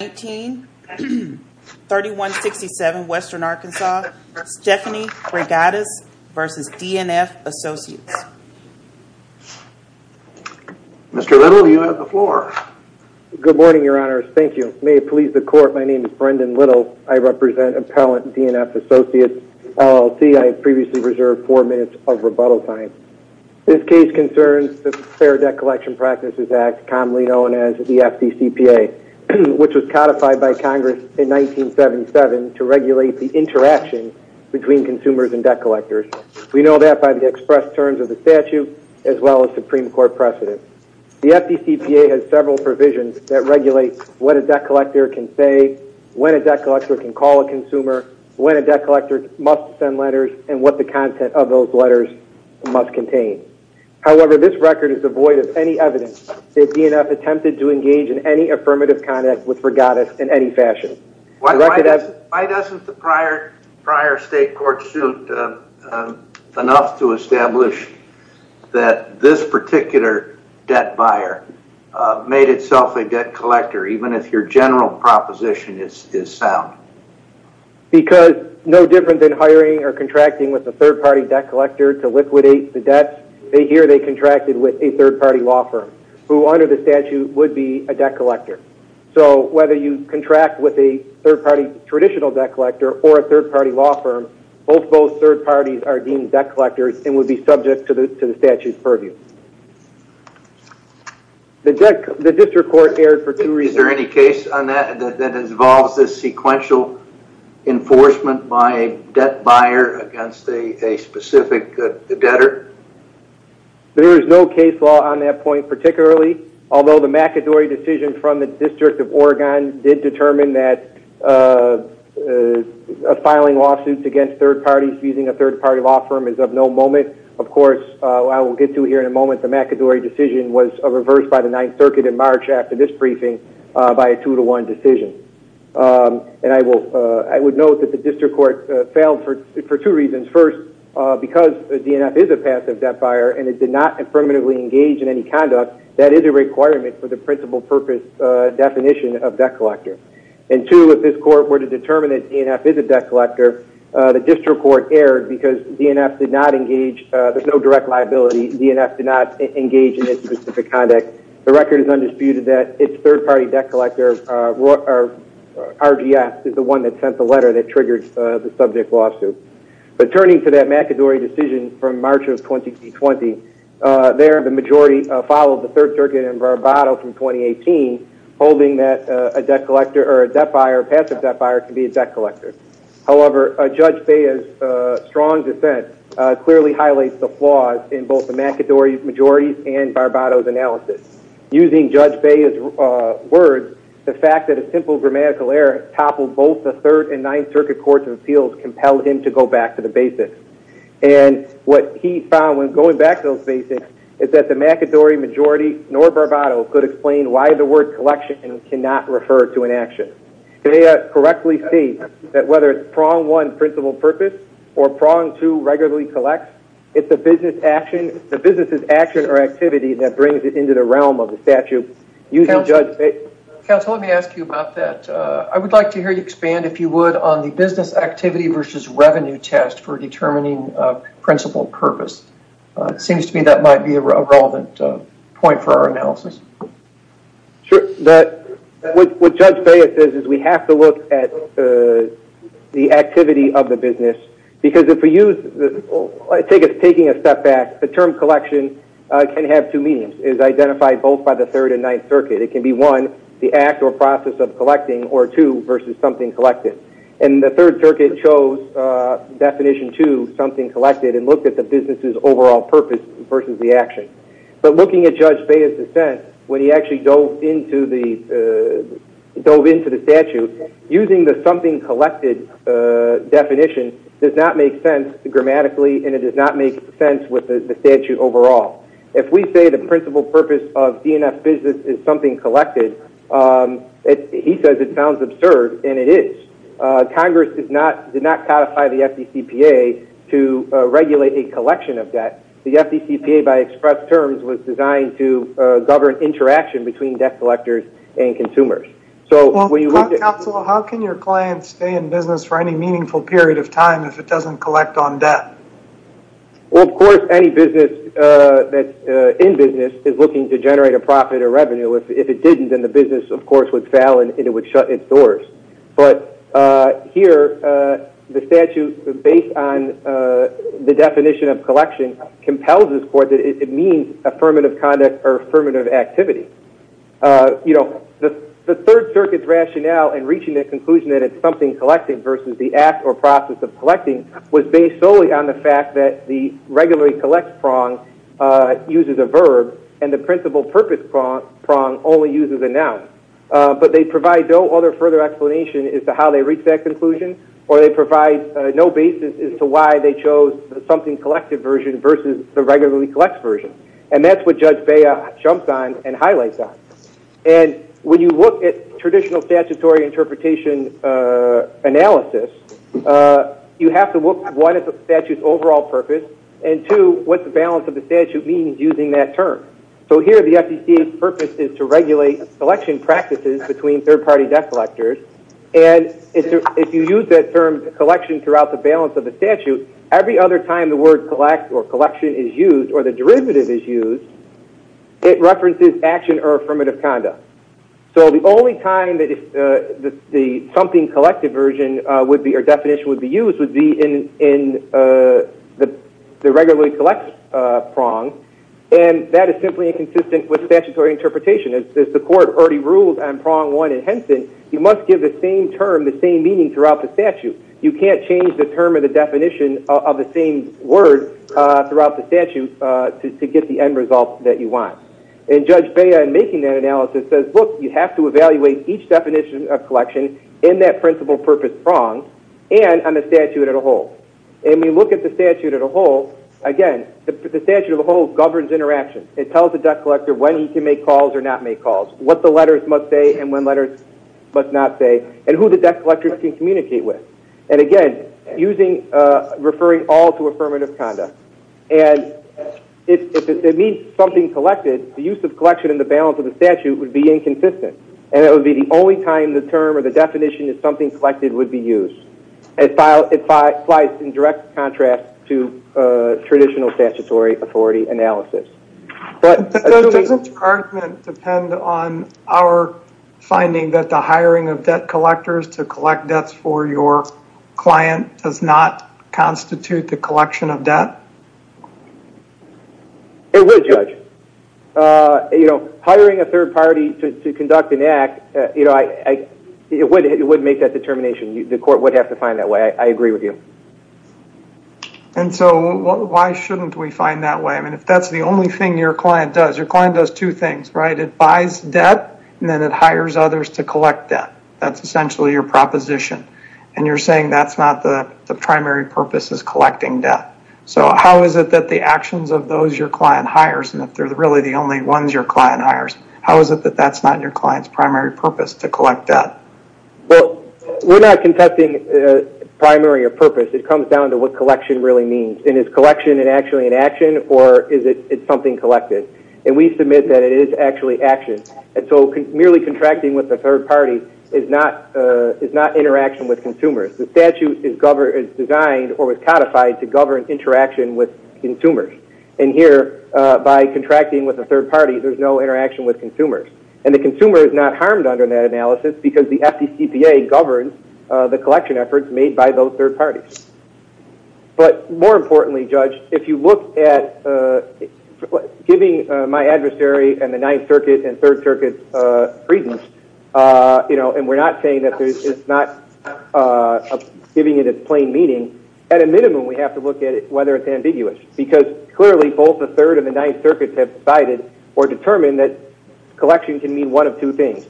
3167 Western Arkansas, Stephanie Reygadas v. DNF Associates Mr. Little, you have the floor. Good morning, Your Honors. Thank you. May it please the Court, my name is Brendan Little. I represent Appellant DNF Associates, LLC. I have previously reserved four minutes of rebuttal time. This case concerns the Fair Debt Collection Practices Act, commonly known as the FDCPA, which was codified by Congress in 1977 to regulate the interaction between consumers and debt collectors. We know that by the express terms of the statute as well as Supreme Court precedent. The FDCPA has several provisions that regulate what a debt collector can say, when a debt collector can call a consumer, when a debt collector must send letters, and what the content of those letters must contain. However, this record is devoid of any evidence that DNF attempted to engage in any affirmative conduct with Reygadas in any fashion. Why doesn't the prior state court suit enough to establish that this particular debt buyer made itself a debt collector, even if your general proposition is sound? Because no different than hiring or contracting with a third-party debt collector to liquidate the debts, here they contracted with a third-party law firm, who under the statute would be a debt collector. So whether you contract with a third-party traditional debt collector or a third-party law firm, both third parties are deemed debt collectors and would be subject to the statute's purview. The district court erred for two reasons. Is there any case on that that involves this sequential enforcement by a debt buyer against a specific debtor? There is no case law on that point particularly, although the McAdory decision from the District of Oregon did determine that filing lawsuits against third parties using a third-party law firm is of no moment. Of course, I will get to here in a moment. The McAdory decision was reversed by the Ninth Circuit in March after this briefing by a two-to-one decision. And I would note that the district court failed for two reasons. First, because the DNF is a passive debt buyer and it did not affirmatively engage in any conduct, that is a requirement for the principal purpose definition of debt collector. And two, if this court were to determine that DNF is a debt collector, the district court erred because DNF did not engage, there's no direct liability, DNF did not engage in any specific conduct. The record is undisputed that its third-party debt collector, RGS, is the one that sent the letter that triggered the subject lawsuit. But turning to that McAdory decision from March of 2020, there the majority followed the Third Circuit in Barbado from 2018, holding that a debt collector or a debt buyer, a passive debt buyer, can be a debt collector. However, Judge Bea's strong defense clearly highlights the flaws in both the McAdory majority and Barbado's analysis. Using Judge Bea's words, the fact that a simple grammatical error toppled both the Third and Ninth Circuit Courts of Appeals compelled him to go back to the basics. And what he found when going back to those basics is that the McAdory majority nor Barbado could explain why the word collection cannot refer to an action. Judge Bea correctly states that whether it's prong one, principal purpose, or prong two, regularly collects, it's the business's action or activity that brings it into the realm of the statute. Counsel, let me ask you about that. I would like to hear you expand, if you would, on the business activity versus revenue test for determining principal purpose. It seems to me that might be a relevant point for our analysis. Sure. What Judge Bea says is we have to look at the activity of the business. Because if we use, taking a step back, the term collection can have two meanings. It's identified both by the Third and Ninth Circuit. It can be one, the act or process of collecting, or two, versus something collected. And the Third Circuit chose definition two, something collected, and looked at the business's overall purpose versus the action. But looking at Judge Bea's defense, when he actually dove into the statute, using the something collected definition does not make sense grammatically, and it does not make sense with the statute overall. If we say the principal purpose of DNF business is something collected, he says it sounds absurd, and it is. Congress did not codify the FDCPA to regulate a collection of debt. The FDCPA by express terms was designed to govern interaction between debt collectors and consumers. Counselor, how can your client stay in business for any meaningful period of time if it doesn't collect on debt? Of course, any business that's in business is looking to generate a profit or revenue. If it didn't, then the business, of course, would fail, and it would shut its doors. But here, the statute, based on the definition of collection, compels this court that it means affirmative conduct or affirmative activity. You know, the Third Circuit's rationale in reaching the conclusion that it's something collected versus the act or process of collecting was based solely on the fact that the regularly collect prong uses a verb, and the principal purpose prong only uses a noun. But they provide no other further explanation as to how they reached that conclusion, or they provide no basis as to why they chose the something collected version versus the regularly collects version. And that's what Judge Bea jumps on and highlights on. And when you look at traditional statutory interpretation analysis, you have to look, one, at the statute's overall purpose, and, two, what the balance of the statute means using that term. So here, the FCC's purpose is to regulate collection practices between third-party debt collectors. And if you use that term, collection, throughout the balance of the statute, every other time the word collect or collection is used or the derivative is used, it references action or affirmative conduct. So the only time that the something collected version would be or definition would be used would be in the regularly collects prong, and that is simply inconsistent with statutory interpretation. As the court already ruled on prong one in Henson, you must give the same term the same meaning throughout the statute. You can't change the term or the definition of the same word throughout the statute to get the end result that you want. And Judge Bea, in making that analysis, says, look, you have to evaluate each definition of collection in that principal purpose prong and on the statute as a whole. And when you look at the statute as a whole, again, the statute as a whole governs interaction. It tells the debt collector when he can make calls or not make calls, what the letters must say and when letters must not say, and who the debt collector can communicate with. And again, referring all to affirmative conduct. And if it means something collected, the use of collection in the balance of the statute would be inconsistent, and it would be the only time the term or the definition of something collected would be used. It flies in direct contrast to traditional statutory authority analysis. But doesn't the argument depend on our finding that the hiring of debt collectors to collect debts for your client does not constitute the collection of debt? It would, Judge. It would make that determination. The court would have to find that way. I agree with you. And so why shouldn't we find that way? I mean, if that's the only thing your client does, your client does two things, right? It buys debt, and then it hires others to collect debt. That's essentially your proposition. And you're saying that's not the primary purpose is collecting debt. So how is it that the actions of those your client hires, and if they're really the only ones your client hires, how is it that that's not your client's primary purpose to collect debt? Well, we're not contesting primary or purpose. It comes down to what collection really means. And is collection actually an action, or is it something collected? And we submit that it is actually action. And so merely contracting with a third party is not interaction with consumers. The statute is designed or was codified to govern interaction with consumers. And here, by contracting with a third party, there's no interaction with consumers. And the consumer is not harmed under that analysis because the FDCPA governs the collection efforts made by those third parties. But more importantly, Judge, if you look at giving my adversary and the Ninth Circuit and Third Circuit's reasons, and we're not saying that it's not giving it its plain meaning, at a minimum we have to look at whether it's ambiguous. Because clearly both the Third and the Ninth Circuits have decided or determined that collection can mean one of two things,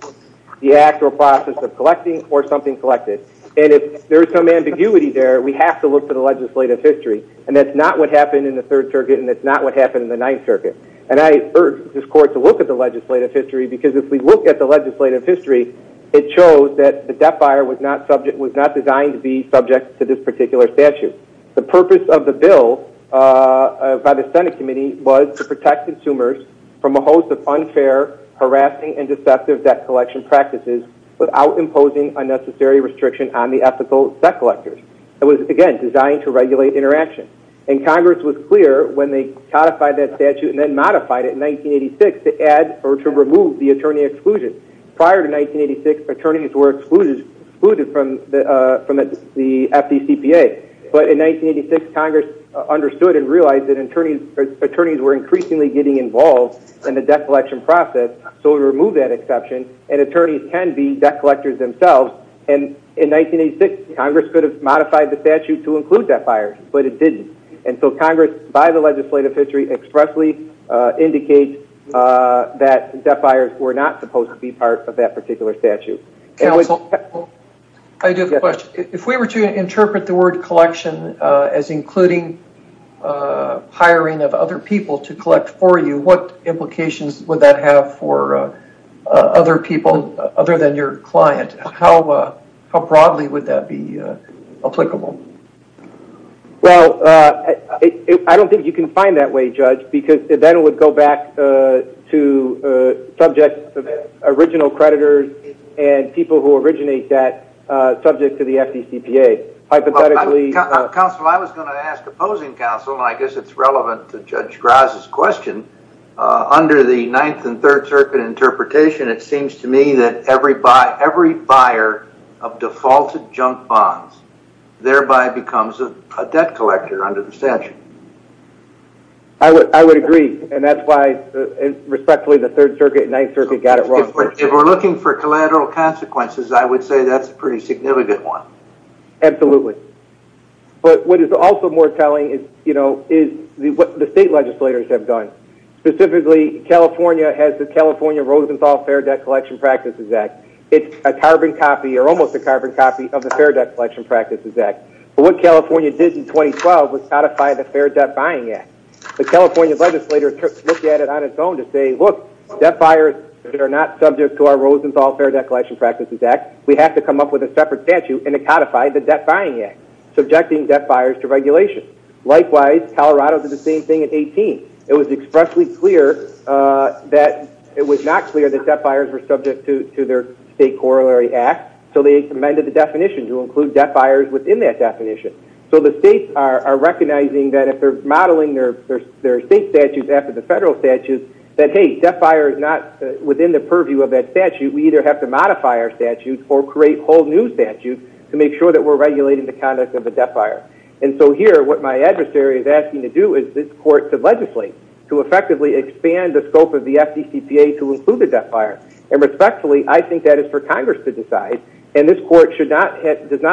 the actual process of collecting or something collected. And if there's some ambiguity there, we have to look to the legislative history. And that's not what happened in the Third Circuit, and that's not what happened in the Ninth Circuit. And I urge this Court to look at the legislative history because if we look at the legislative history, it shows that the debt buyer was not designed to be subject to this particular statute. The purpose of the bill by the Senate Committee was to protect consumers from a host of unfair, harassing, and deceptive debt collection practices without imposing unnecessary restriction on the ethical debt collectors. It was, again, designed to regulate interaction. And Congress was clear when they codified that statute and then modified it in 1986 to add or to remove the attorney exclusion. Prior to 1986, attorneys were excluded from the FDCPA. But in 1986, Congress understood and realized that attorneys were increasingly getting involved in the debt collection process, so it removed that exception, and attorneys can be debt collectors themselves. And in 1986, Congress could have modified the statute to include debt buyers, but it didn't. And so Congress, by the legislative history, expressly indicates that debt buyers were not supposed to be part of that particular statute. Counsel, I do have a question. If we were to interpret the word collection as including hiring of other people to collect for you, what implications would that have for other people other than your client? How broadly would that be applicable? Well, I don't think you can find that way, Judge, because then it would go back to subjects of original creditors and people who originate that subject to the FDCPA. Hypothetically... Counsel, I was going to ask opposing counsel, and I guess it's relevant to Judge Graz's question. Under the Ninth and Third Circuit interpretation, it seems to me that every buyer of defaulted junk bonds thereby becomes a debt collector under the statute. I would agree, and that's why, respectfully, the Third Circuit and Ninth Circuit got it wrong. If we're looking for collateral consequences, I would say that's a pretty significant one. Absolutely. But what is also more telling is what the state legislators have done. Specifically, California has the California Rosenthal Fair Debt Collection Practices Act. It's a carbon copy, or almost a carbon copy, of the Fair Debt Collection Practices Act. But what California did in 2012 was codify the Fair Debt Buying Act. The California legislators looked at it on its own to say, look, debt buyers that are not subject to our Rosenthal Fair Debt Collection Practices Act, we have to come up with a separate statute and to codify the Debt Buying Act, subjecting debt buyers to regulation. Likewise, Colorado did the same thing in 18. It was expressly clear that it was not clear that debt buyers were subject to their state corollary act, so they amended the definition to include debt buyers within that definition. So the states are recognizing that if they're modeling their state statutes after the federal statutes, that, hey, debt buyers are not within the purview of that statute. We either have to modify our statutes or create whole new statutes to make sure that we're regulating the conduct of a debt buyer. And so here, what my adversary is asking to do is this court to legislate, to effectively expand the scope of the FDCPA to include the debt buyer. And respectfully, I think that is for Congress to decide, and this court does not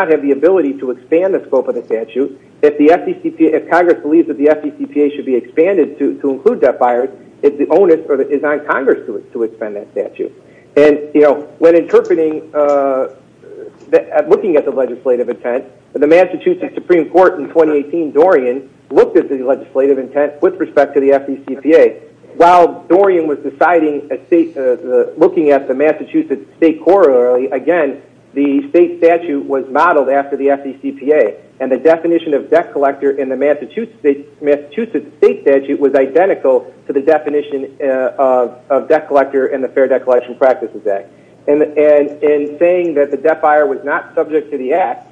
have the ability to expand the scope of the statute. If Congress believes that the FDCPA should be expanded to include debt buyers, it's on Congress to expand that statute. And, you know, when interpreting, looking at the legislative intent, the Massachusetts Supreme Court in 2018, Dorian, looked at the legislative intent with respect to the FDCPA. While Dorian was deciding, looking at the Massachusetts state corollary, again, the state statute was modeled after the FDCPA. And the definition of debt collector in the Massachusetts state statute was identical to the definition of debt collector in the Fair Debt Collection Practices Act. And in saying that the debt buyer was not subject to the act,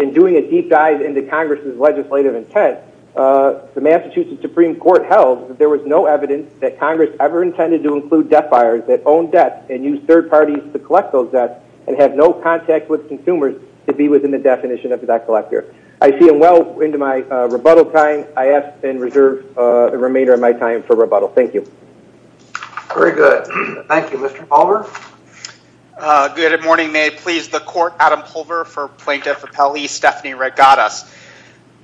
in doing a deep dive into Congress's legislative intent, the Massachusetts Supreme Court held that there was no evidence that Congress ever intended to include debt buyers that owned debt and used third parties to collect those debts and have no contact with consumers to be within the definition of debt collector. I see I'm well into my rebuttal time. I ask and reserve the remainder of my time for rebuttal. Thank you. Very good. Thank you. Mr. Pulver? Good morning. May it please the court. Adam Pulver for Plaintiff Appellee. Stephanie Wright got us.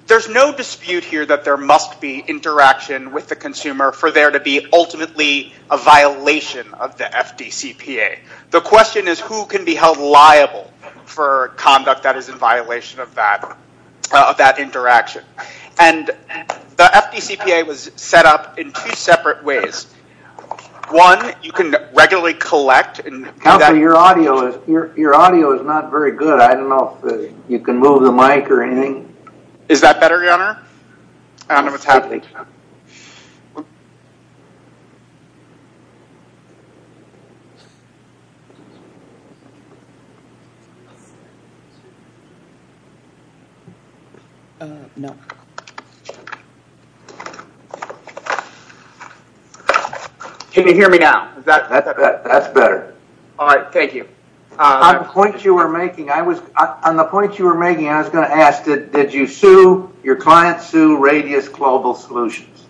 There's no dispute here that there must be interaction with the consumer for there to be ultimately a violation of the FDCPA. The question is who can be held liable for conduct that is in violation of that interaction. And the FDCPA was set up in two separate ways. One, you can regularly collect. Counselor, your audio is not very good. I don't know if you can move the mic or anything. Is that better, Your Honor? Can you hear me now? That's better. All right. Thank you. On the point you were making, I was going to ask, did your client sue Radius Global Solutions?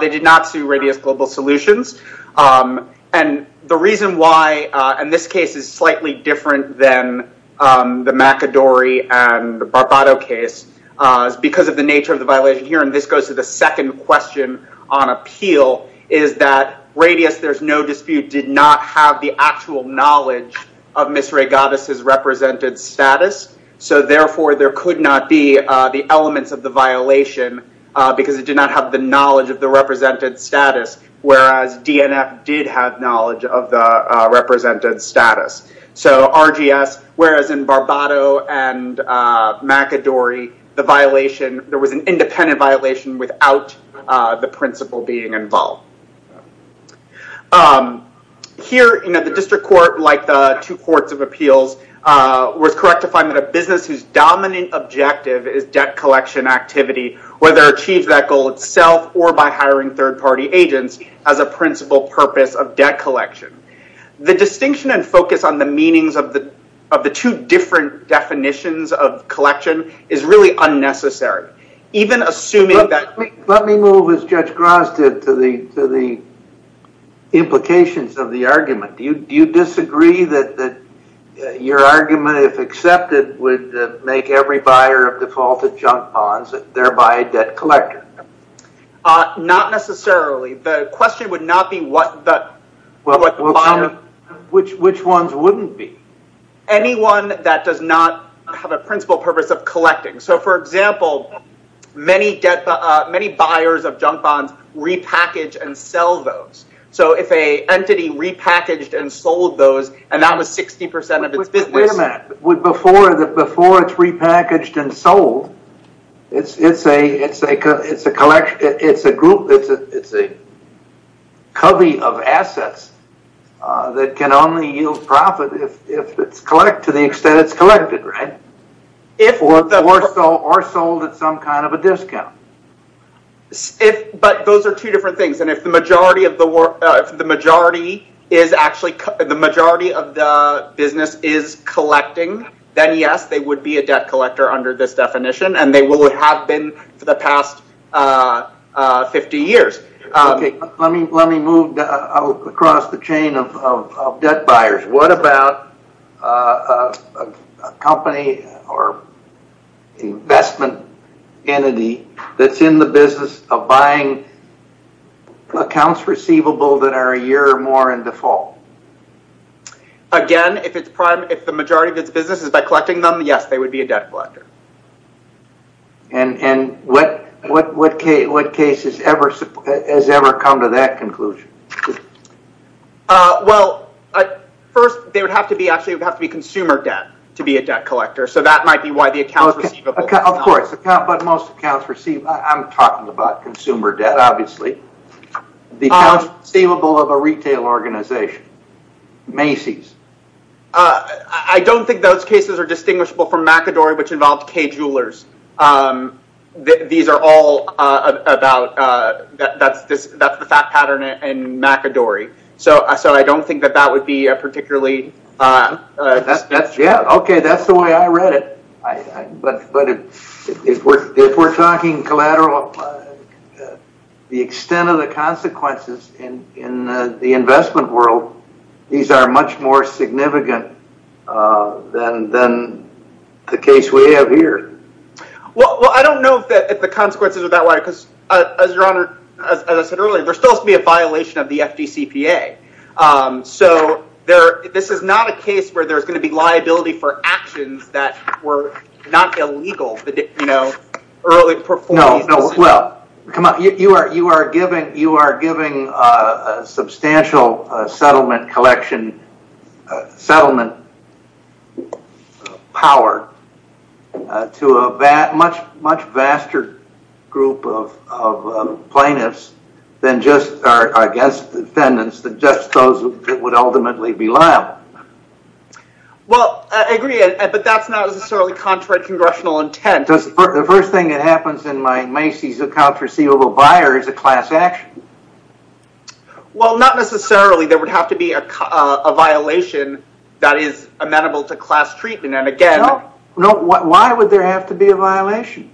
They did not sue Radius Global Solutions. And the reason why, and this case is slightly different than the McAdory and Barbato case, is because of the nature of the violation here. And this goes to the second question on appeal, is that Radius, there's no dispute, did not have the actual knowledge of Miss Ray Goddess' represented status. So therefore, there could not be the elements of the violation because it did not have the knowledge of the represented status, whereas DNF did have knowledge of the represented status. So RGS, whereas in Barbato and McAdory, there was an independent violation without the principal being involved. Here, the district court, like the two courts of appeals, was correct to find that a business whose dominant objective is debt collection activity, whether it achieves that goal itself or by hiring third-party agents, has a principal purpose of debt collection. The distinction and focus on the meanings of the two different definitions of collection is really unnecessary. Even assuming that... Let me move, as Judge Gross did, to the implications of the argument. Do you disagree that your argument, if accepted, would make every buyer of defaulted junk bonds thereby a debt collector? Not necessarily. The question would not be what the bond... Which ones wouldn't be? Anyone that does not have a principal purpose of collecting. So, for example, many buyers of junk bonds repackage and sell those. So if an entity repackaged and sold those, and that was 60% of its business... Wait a minute. Before it's repackaged and sold, it's a collection, it's a group, it's a covey of assets that can only yield profit to the extent it's collected, right? Or sold at some kind of a discount. But those are two different things. And if the majority of the business is collecting, then yes, they would be a debt collector under this definition, and they will have been for the past 50 years. Let me move across the chain of debt buyers. What about a company or investment entity that's in the business of buying accounts receivable that are a year or more in default? Again, if the majority of its business is by collecting them, yes, they would be a debt collector. And what case has ever come to that conclusion? Well, first, they would have to be consumer debt to be a debt collector, so that might be why the accounts receivable... Of course, but most accounts receivable... I'm talking about consumer debt, obviously. The accounts receivable of a retail organization, Macy's. I don't think those cases are distinguishable from McAdory, which involved Kay Jewelers. These are all about... That's the fact pattern in McAdory. So I don't think that that would be particularly... Yeah, okay, that's the way I read it. But if we're talking collateral, the extent of the consequences in the investment world, these are much more significant than the case we have here. Well, I don't know if the consequences are that way, because as I said earlier, there still has to be a violation of the FDCPA. So this is not a case where there's going to be liability for actions that were not illegal, you know, early performance decisions. You are giving substantial settlement collection, settlement power to a much vaster group of plaintiffs than just, I guess, defendants, than just those that would ultimately be liable. Well, I agree, but that's not necessarily contrary to congressional intent. The first thing that happens in my Macy's account for sealable buyer is a class action. Well, not necessarily. There would have to be a violation that is amenable to class treatment, and again... No, why would there have to be a violation?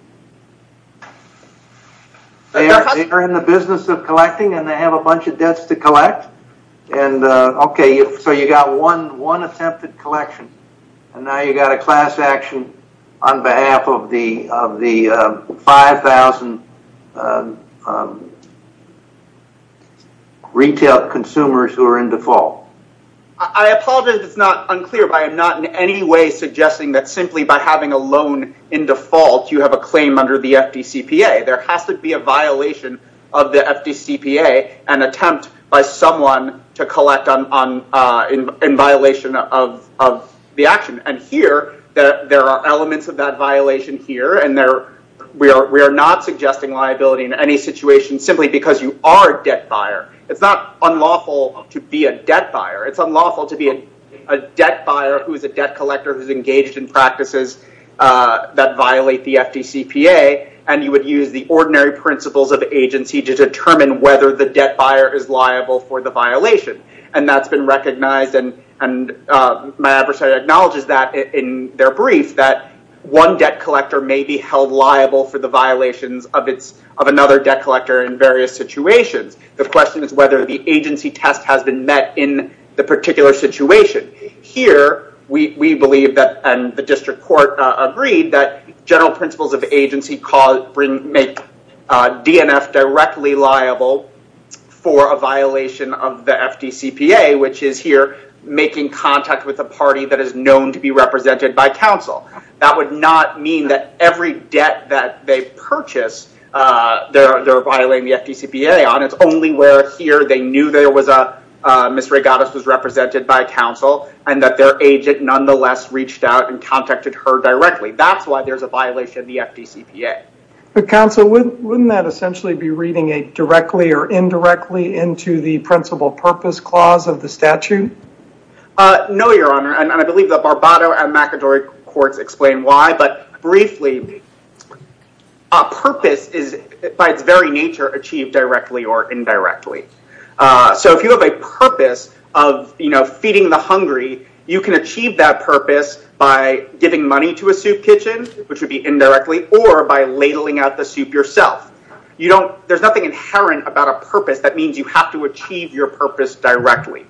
They are in the business of collecting, and they have a bunch of debts to collect. Okay, so you got one attempted collection, and now you got a class action on behalf of the 5,000 retail consumers who are in default. I apologize if it's not unclear, but I am not in any way suggesting that simply by having a loan in default, you have a claim under the FDCPA. There has to be a violation of the FDCPA, an attempt by someone to collect in violation of the action. And here, there are elements of that violation here, and we are not suggesting liability in any situation simply because you are a debt buyer. It's not unlawful to be a debt buyer. It's unlawful to be a debt buyer who is a debt collector who is engaged in practices that violate the FDCPA, and you would use the ordinary principles of agency to determine whether the debt buyer is liable for the violation. And that's been recognized, and my adversary acknowledges that in their brief, that one debt collector may be held liable for the violations of another debt collector in various situations. The question is whether the agency test has been met in the particular situation. Here, we believe that, and the district court agreed, that general principles of agency make DNF directly liable for a violation of the FDCPA, which is here making contact with a party that is known to be represented by counsel. That would not mean that every debt that they purchase, they're violating the FDCPA on. It's only where here they knew there was a, Ms. Regattas was represented by counsel, and that their agent nonetheless reached out and contacted her directly. That's why there's a violation of the FDCPA. But counsel, wouldn't that essentially be reading a directly or indirectly into the principle purpose clause of the statute? No, Your Honor, and I believe the Barbato and McAdory courts explain why, but briefly, a purpose is by its very nature achieved directly or indirectly. So if you have a purpose of feeding the hungry, you can achieve that purpose by giving money to a soup kitchen, which would be indirectly, or by ladling out the soup yourself. There's nothing inherent about a purpose that means you have to achieve your purpose directly.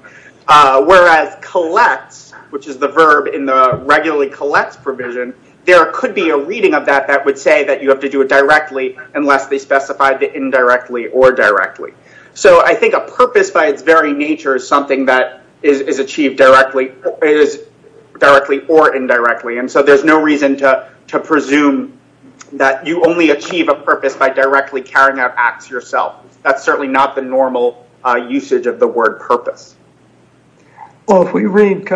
Whereas collects, which is the verb in the regularly collects provision, there could be a reading of that that would say that you have to do it directly unless they specify the indirectly or directly. So I think a purpose by its very nature is something that is achieved directly or indirectly, and so there's no reason to presume that you only achieve a purpose by directly carrying out acts yourself. That's certainly not the normal usage of the word purpose. Well, if we read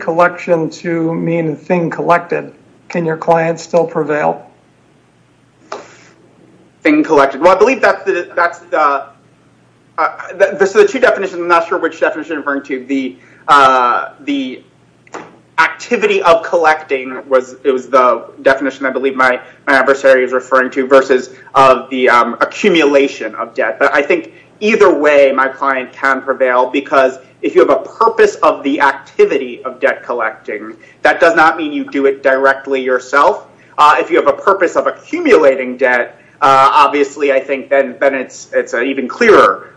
collection to mean thing collected, can your client still prevail? Thing collected. Well, I believe that's the... the activity of collecting was the definition I believe my adversary is referring to versus the accumulation of debt. But I think either way my client can prevail because if you have a purpose of the activity of debt collecting, that does not mean you do it directly yourself. If you have a purpose of accumulating debt, obviously I think then it's an even clearer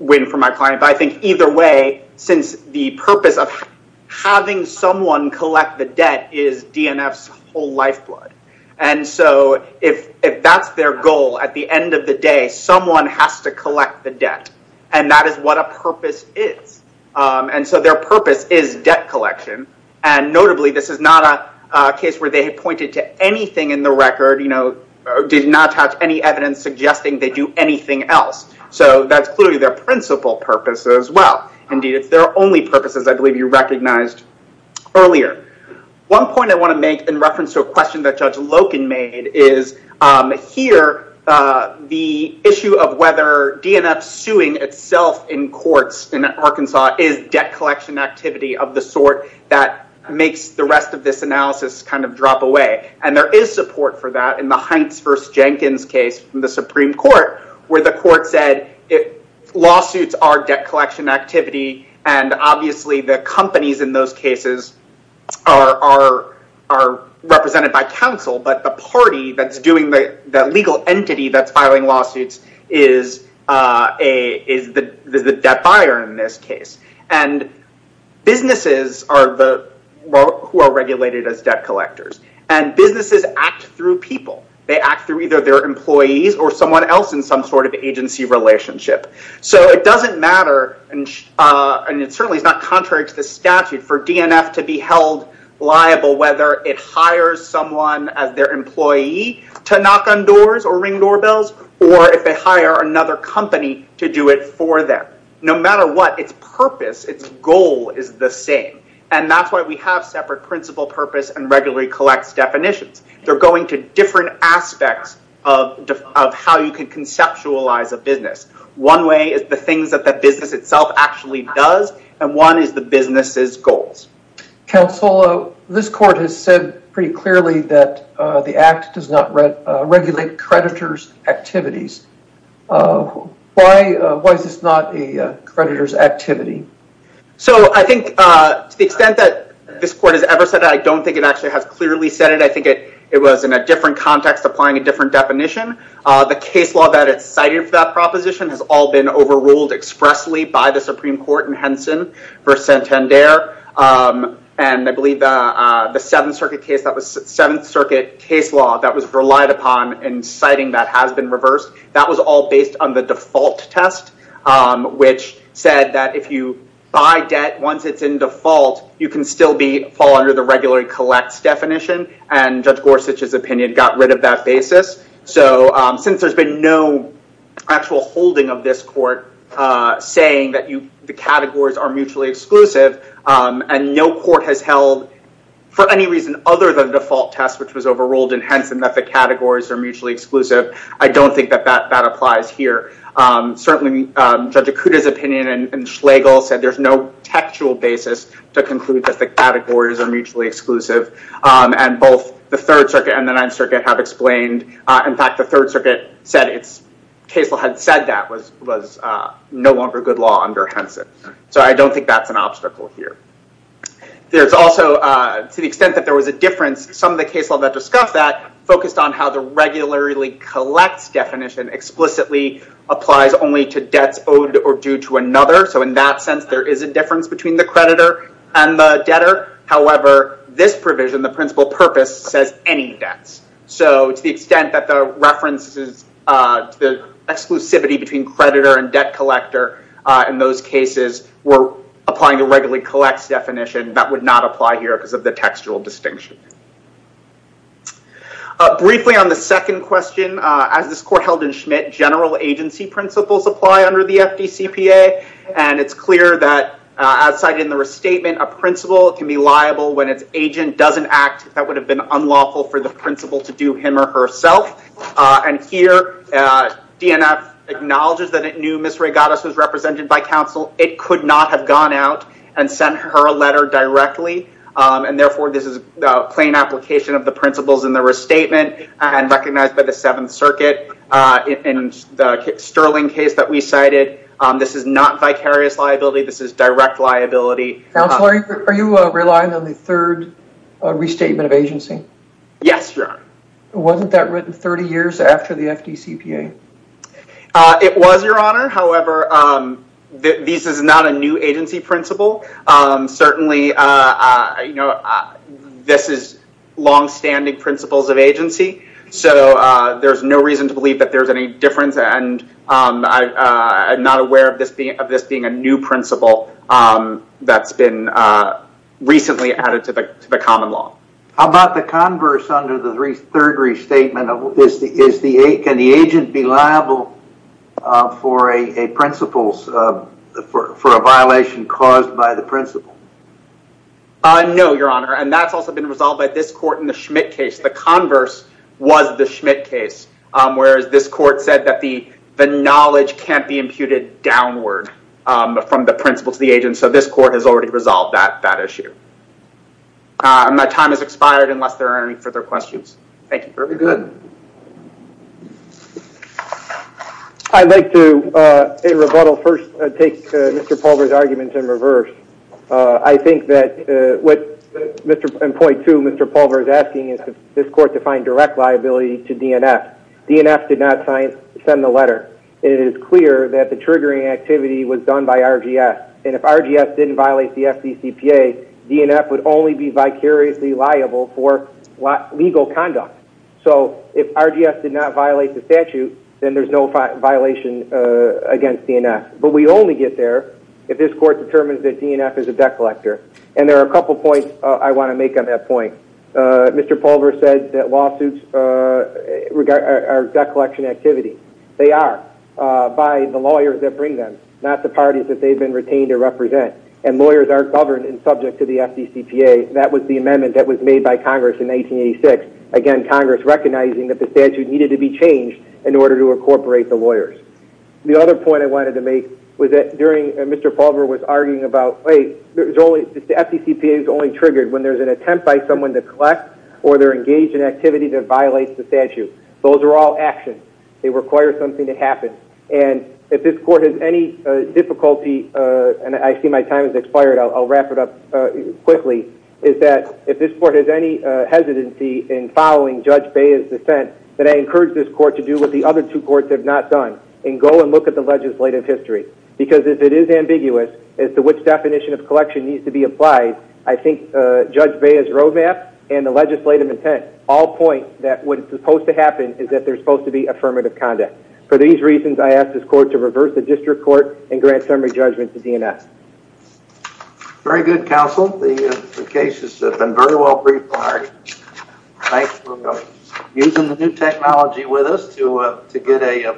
win for my client. But I think either way, since the purpose of having someone collect the debt is DNF's whole lifeblood. And so if that's their goal, at the end of the day someone has to collect the debt, and that is what a purpose is. And so their purpose is debt collection. And notably this is not a case where they had pointed to anything in the record, did not touch any evidence suggesting they do anything else. So that's clearly their principal purpose as well. Indeed, it's their only purpose as I believe you recognized earlier. One point I want to make in reference to a question that Judge Loken made is, here the issue of whether DNF suing itself in courts in Arkansas is debt collection activity of the sort that makes the rest of this analysis kind of drop away. And there is support for that in the Hynes v. Jenkins case from the Supreme Court where the court said lawsuits are debt collection activity and obviously the companies in those cases are represented by counsel, but the party that's doing, the legal entity that's filing lawsuits is the debt buyer in this case. And businesses are the, who are regulated as debt collectors. And businesses act through people. They act through either their employees or someone else in some sort of agency relationship. So it doesn't matter, and it certainly is not contrary to the statute, for DNF to be held liable whether it hires someone as their employee to knock on doors or ring doorbells or if they hire another company to do it for them. No matter what, its purpose, its goal is the same. And that's why we have separate principle, purpose, and regularly collects definitions. They're going to different aspects of how you can conceptualize a business. One way is the things that the business itself actually does and one is the business's goals. Counsel, this court has said pretty clearly that the act does not regulate creditors' activities. Why is this not a creditor's activity? So I think to the extent that this court has ever said that, I don't think it actually has clearly said it. I think it was in a different context applying a different definition. The case law that it cited for that proposition has all been overruled expressly by the Supreme Court in Henson v. Santander. And I believe the Seventh Circuit case that was Seventh Circuit case law that was relied upon in citing that has been reversed. That was all based on the default test, which said that if you buy debt once it's in default, you can still fall under the regularly collects definition. And Judge Gorsuch's opinion got rid of that basis. So since there's been no actual holding of this court saying that the categories are mutually exclusive and no court has held for any reason other than default test, which was overruled in Henson, that the categories are mutually exclusive, I don't think that that applies here. Certainly, Judge Akuta's opinion and Schlegel said there's no textual basis to conclude that the categories are mutually exclusive. And both the Third Circuit and the Ninth Circuit have explained. In fact, the Third Circuit said it's case law had said that was no longer good law under Henson. So I don't think that's an obstacle here. There's also, to the extent that there was a difference, some of the case law that discussed that focused on how the regularly collects definition explicitly applies only to debts owed or due to another. So in that sense, there is a difference between the creditor and the debtor. However, this provision, the principal purpose, says any debts. So to the extent that the references to the exclusivity between creditor and debt collector in those cases were applying to regularly collects definition, that would not apply here because of the textual distinction. Briefly on the second question, as this court held in Schmidt, general agency principles apply under the FDCPA. And it's clear that, as cited in the restatement, a principal can be liable when its agent doesn't act if that would have been unlawful for the principal to do him or herself. And here, DNF acknowledges that it was represented by counsel. It could not have gone out and sent her a letter directly. And therefore, this is a plain application of the principles in the restatement and recognized by the Seventh Circuit. In the Sterling case that we cited, this is not vicarious liability. This is direct liability. Counselor, are you relying on the third restatement of agency? Yes, Your Honor. Wasn't that written 30 years after the FDCPA? It was, Your Honor. However, this is not a new agency principle. Certainly, this is longstanding principles of agency. So there's no reason to believe that there's any difference. And I'm not aware of this being a new principle that's been recently added to the common law. How about the converse under the third restatement? Can the agent be liable for a violation caused by the principle? No, Your Honor. And that's also been resolved by this court in the Schmidt case. The converse was the Schmidt case, whereas this court said that the knowledge can't be imputed downward from the principle to the agent. So this court has already resolved that issue. And my time has expired unless there are any further questions. Thank you, Your Honor. You're good. I'd like to, in rebuttal, first take Mr. Pulver's argument in reverse. I think that what Mr. Pulver is asking is for this court to find direct liability to DNF. DNF did not send the letter. It is clear that the triggering activity was done by RGS. And if RGS didn't violate the FDCPA, DNF would only be vicariously liable for legal conduct. So if RGS did not violate the statute, then there's no violation against DNF. But we only get there if this court determines that DNF is a debt collector. And there are a couple points I want to make on that point. Mr. Pulver said that lawsuits are debt collection activity. They are by the lawyers that bring them, not the parties that they've been retained to represent. And lawyers are governed and subject to the FDCPA. That was the amendment that was made by Congress in 1986. Again, Congress recognizing that the statute needed to be changed in order to incorporate the lawyers. The other point I wanted to make was that Mr. Pulver was arguing about, hey, the FDCPA is only triggered when there's an attempt by someone to collect or they're engaged in activity that violates the statute. Those are all actions. They require something to happen. And if this court has any difficulty, and I see my time has expired, I'll wrap it up quickly, is that if this court has any hesitancy in following Judge Bea's dissent, then I encourage this court to do what the other two courts have not done and go and look at the legislative history. Because if it is ambiguous as to which definition of collection needs to be applied, I think Judge Bea's roadmap and the legislative intent all point that what is supposed to happen is that there's supposed to be affirmative conduct. For these reasons, I ask this court to reverse the district court and grant summary judgment to D&S. Very good, counsel. The case has been very well briefed. Thanks for using the new technology with us to get a.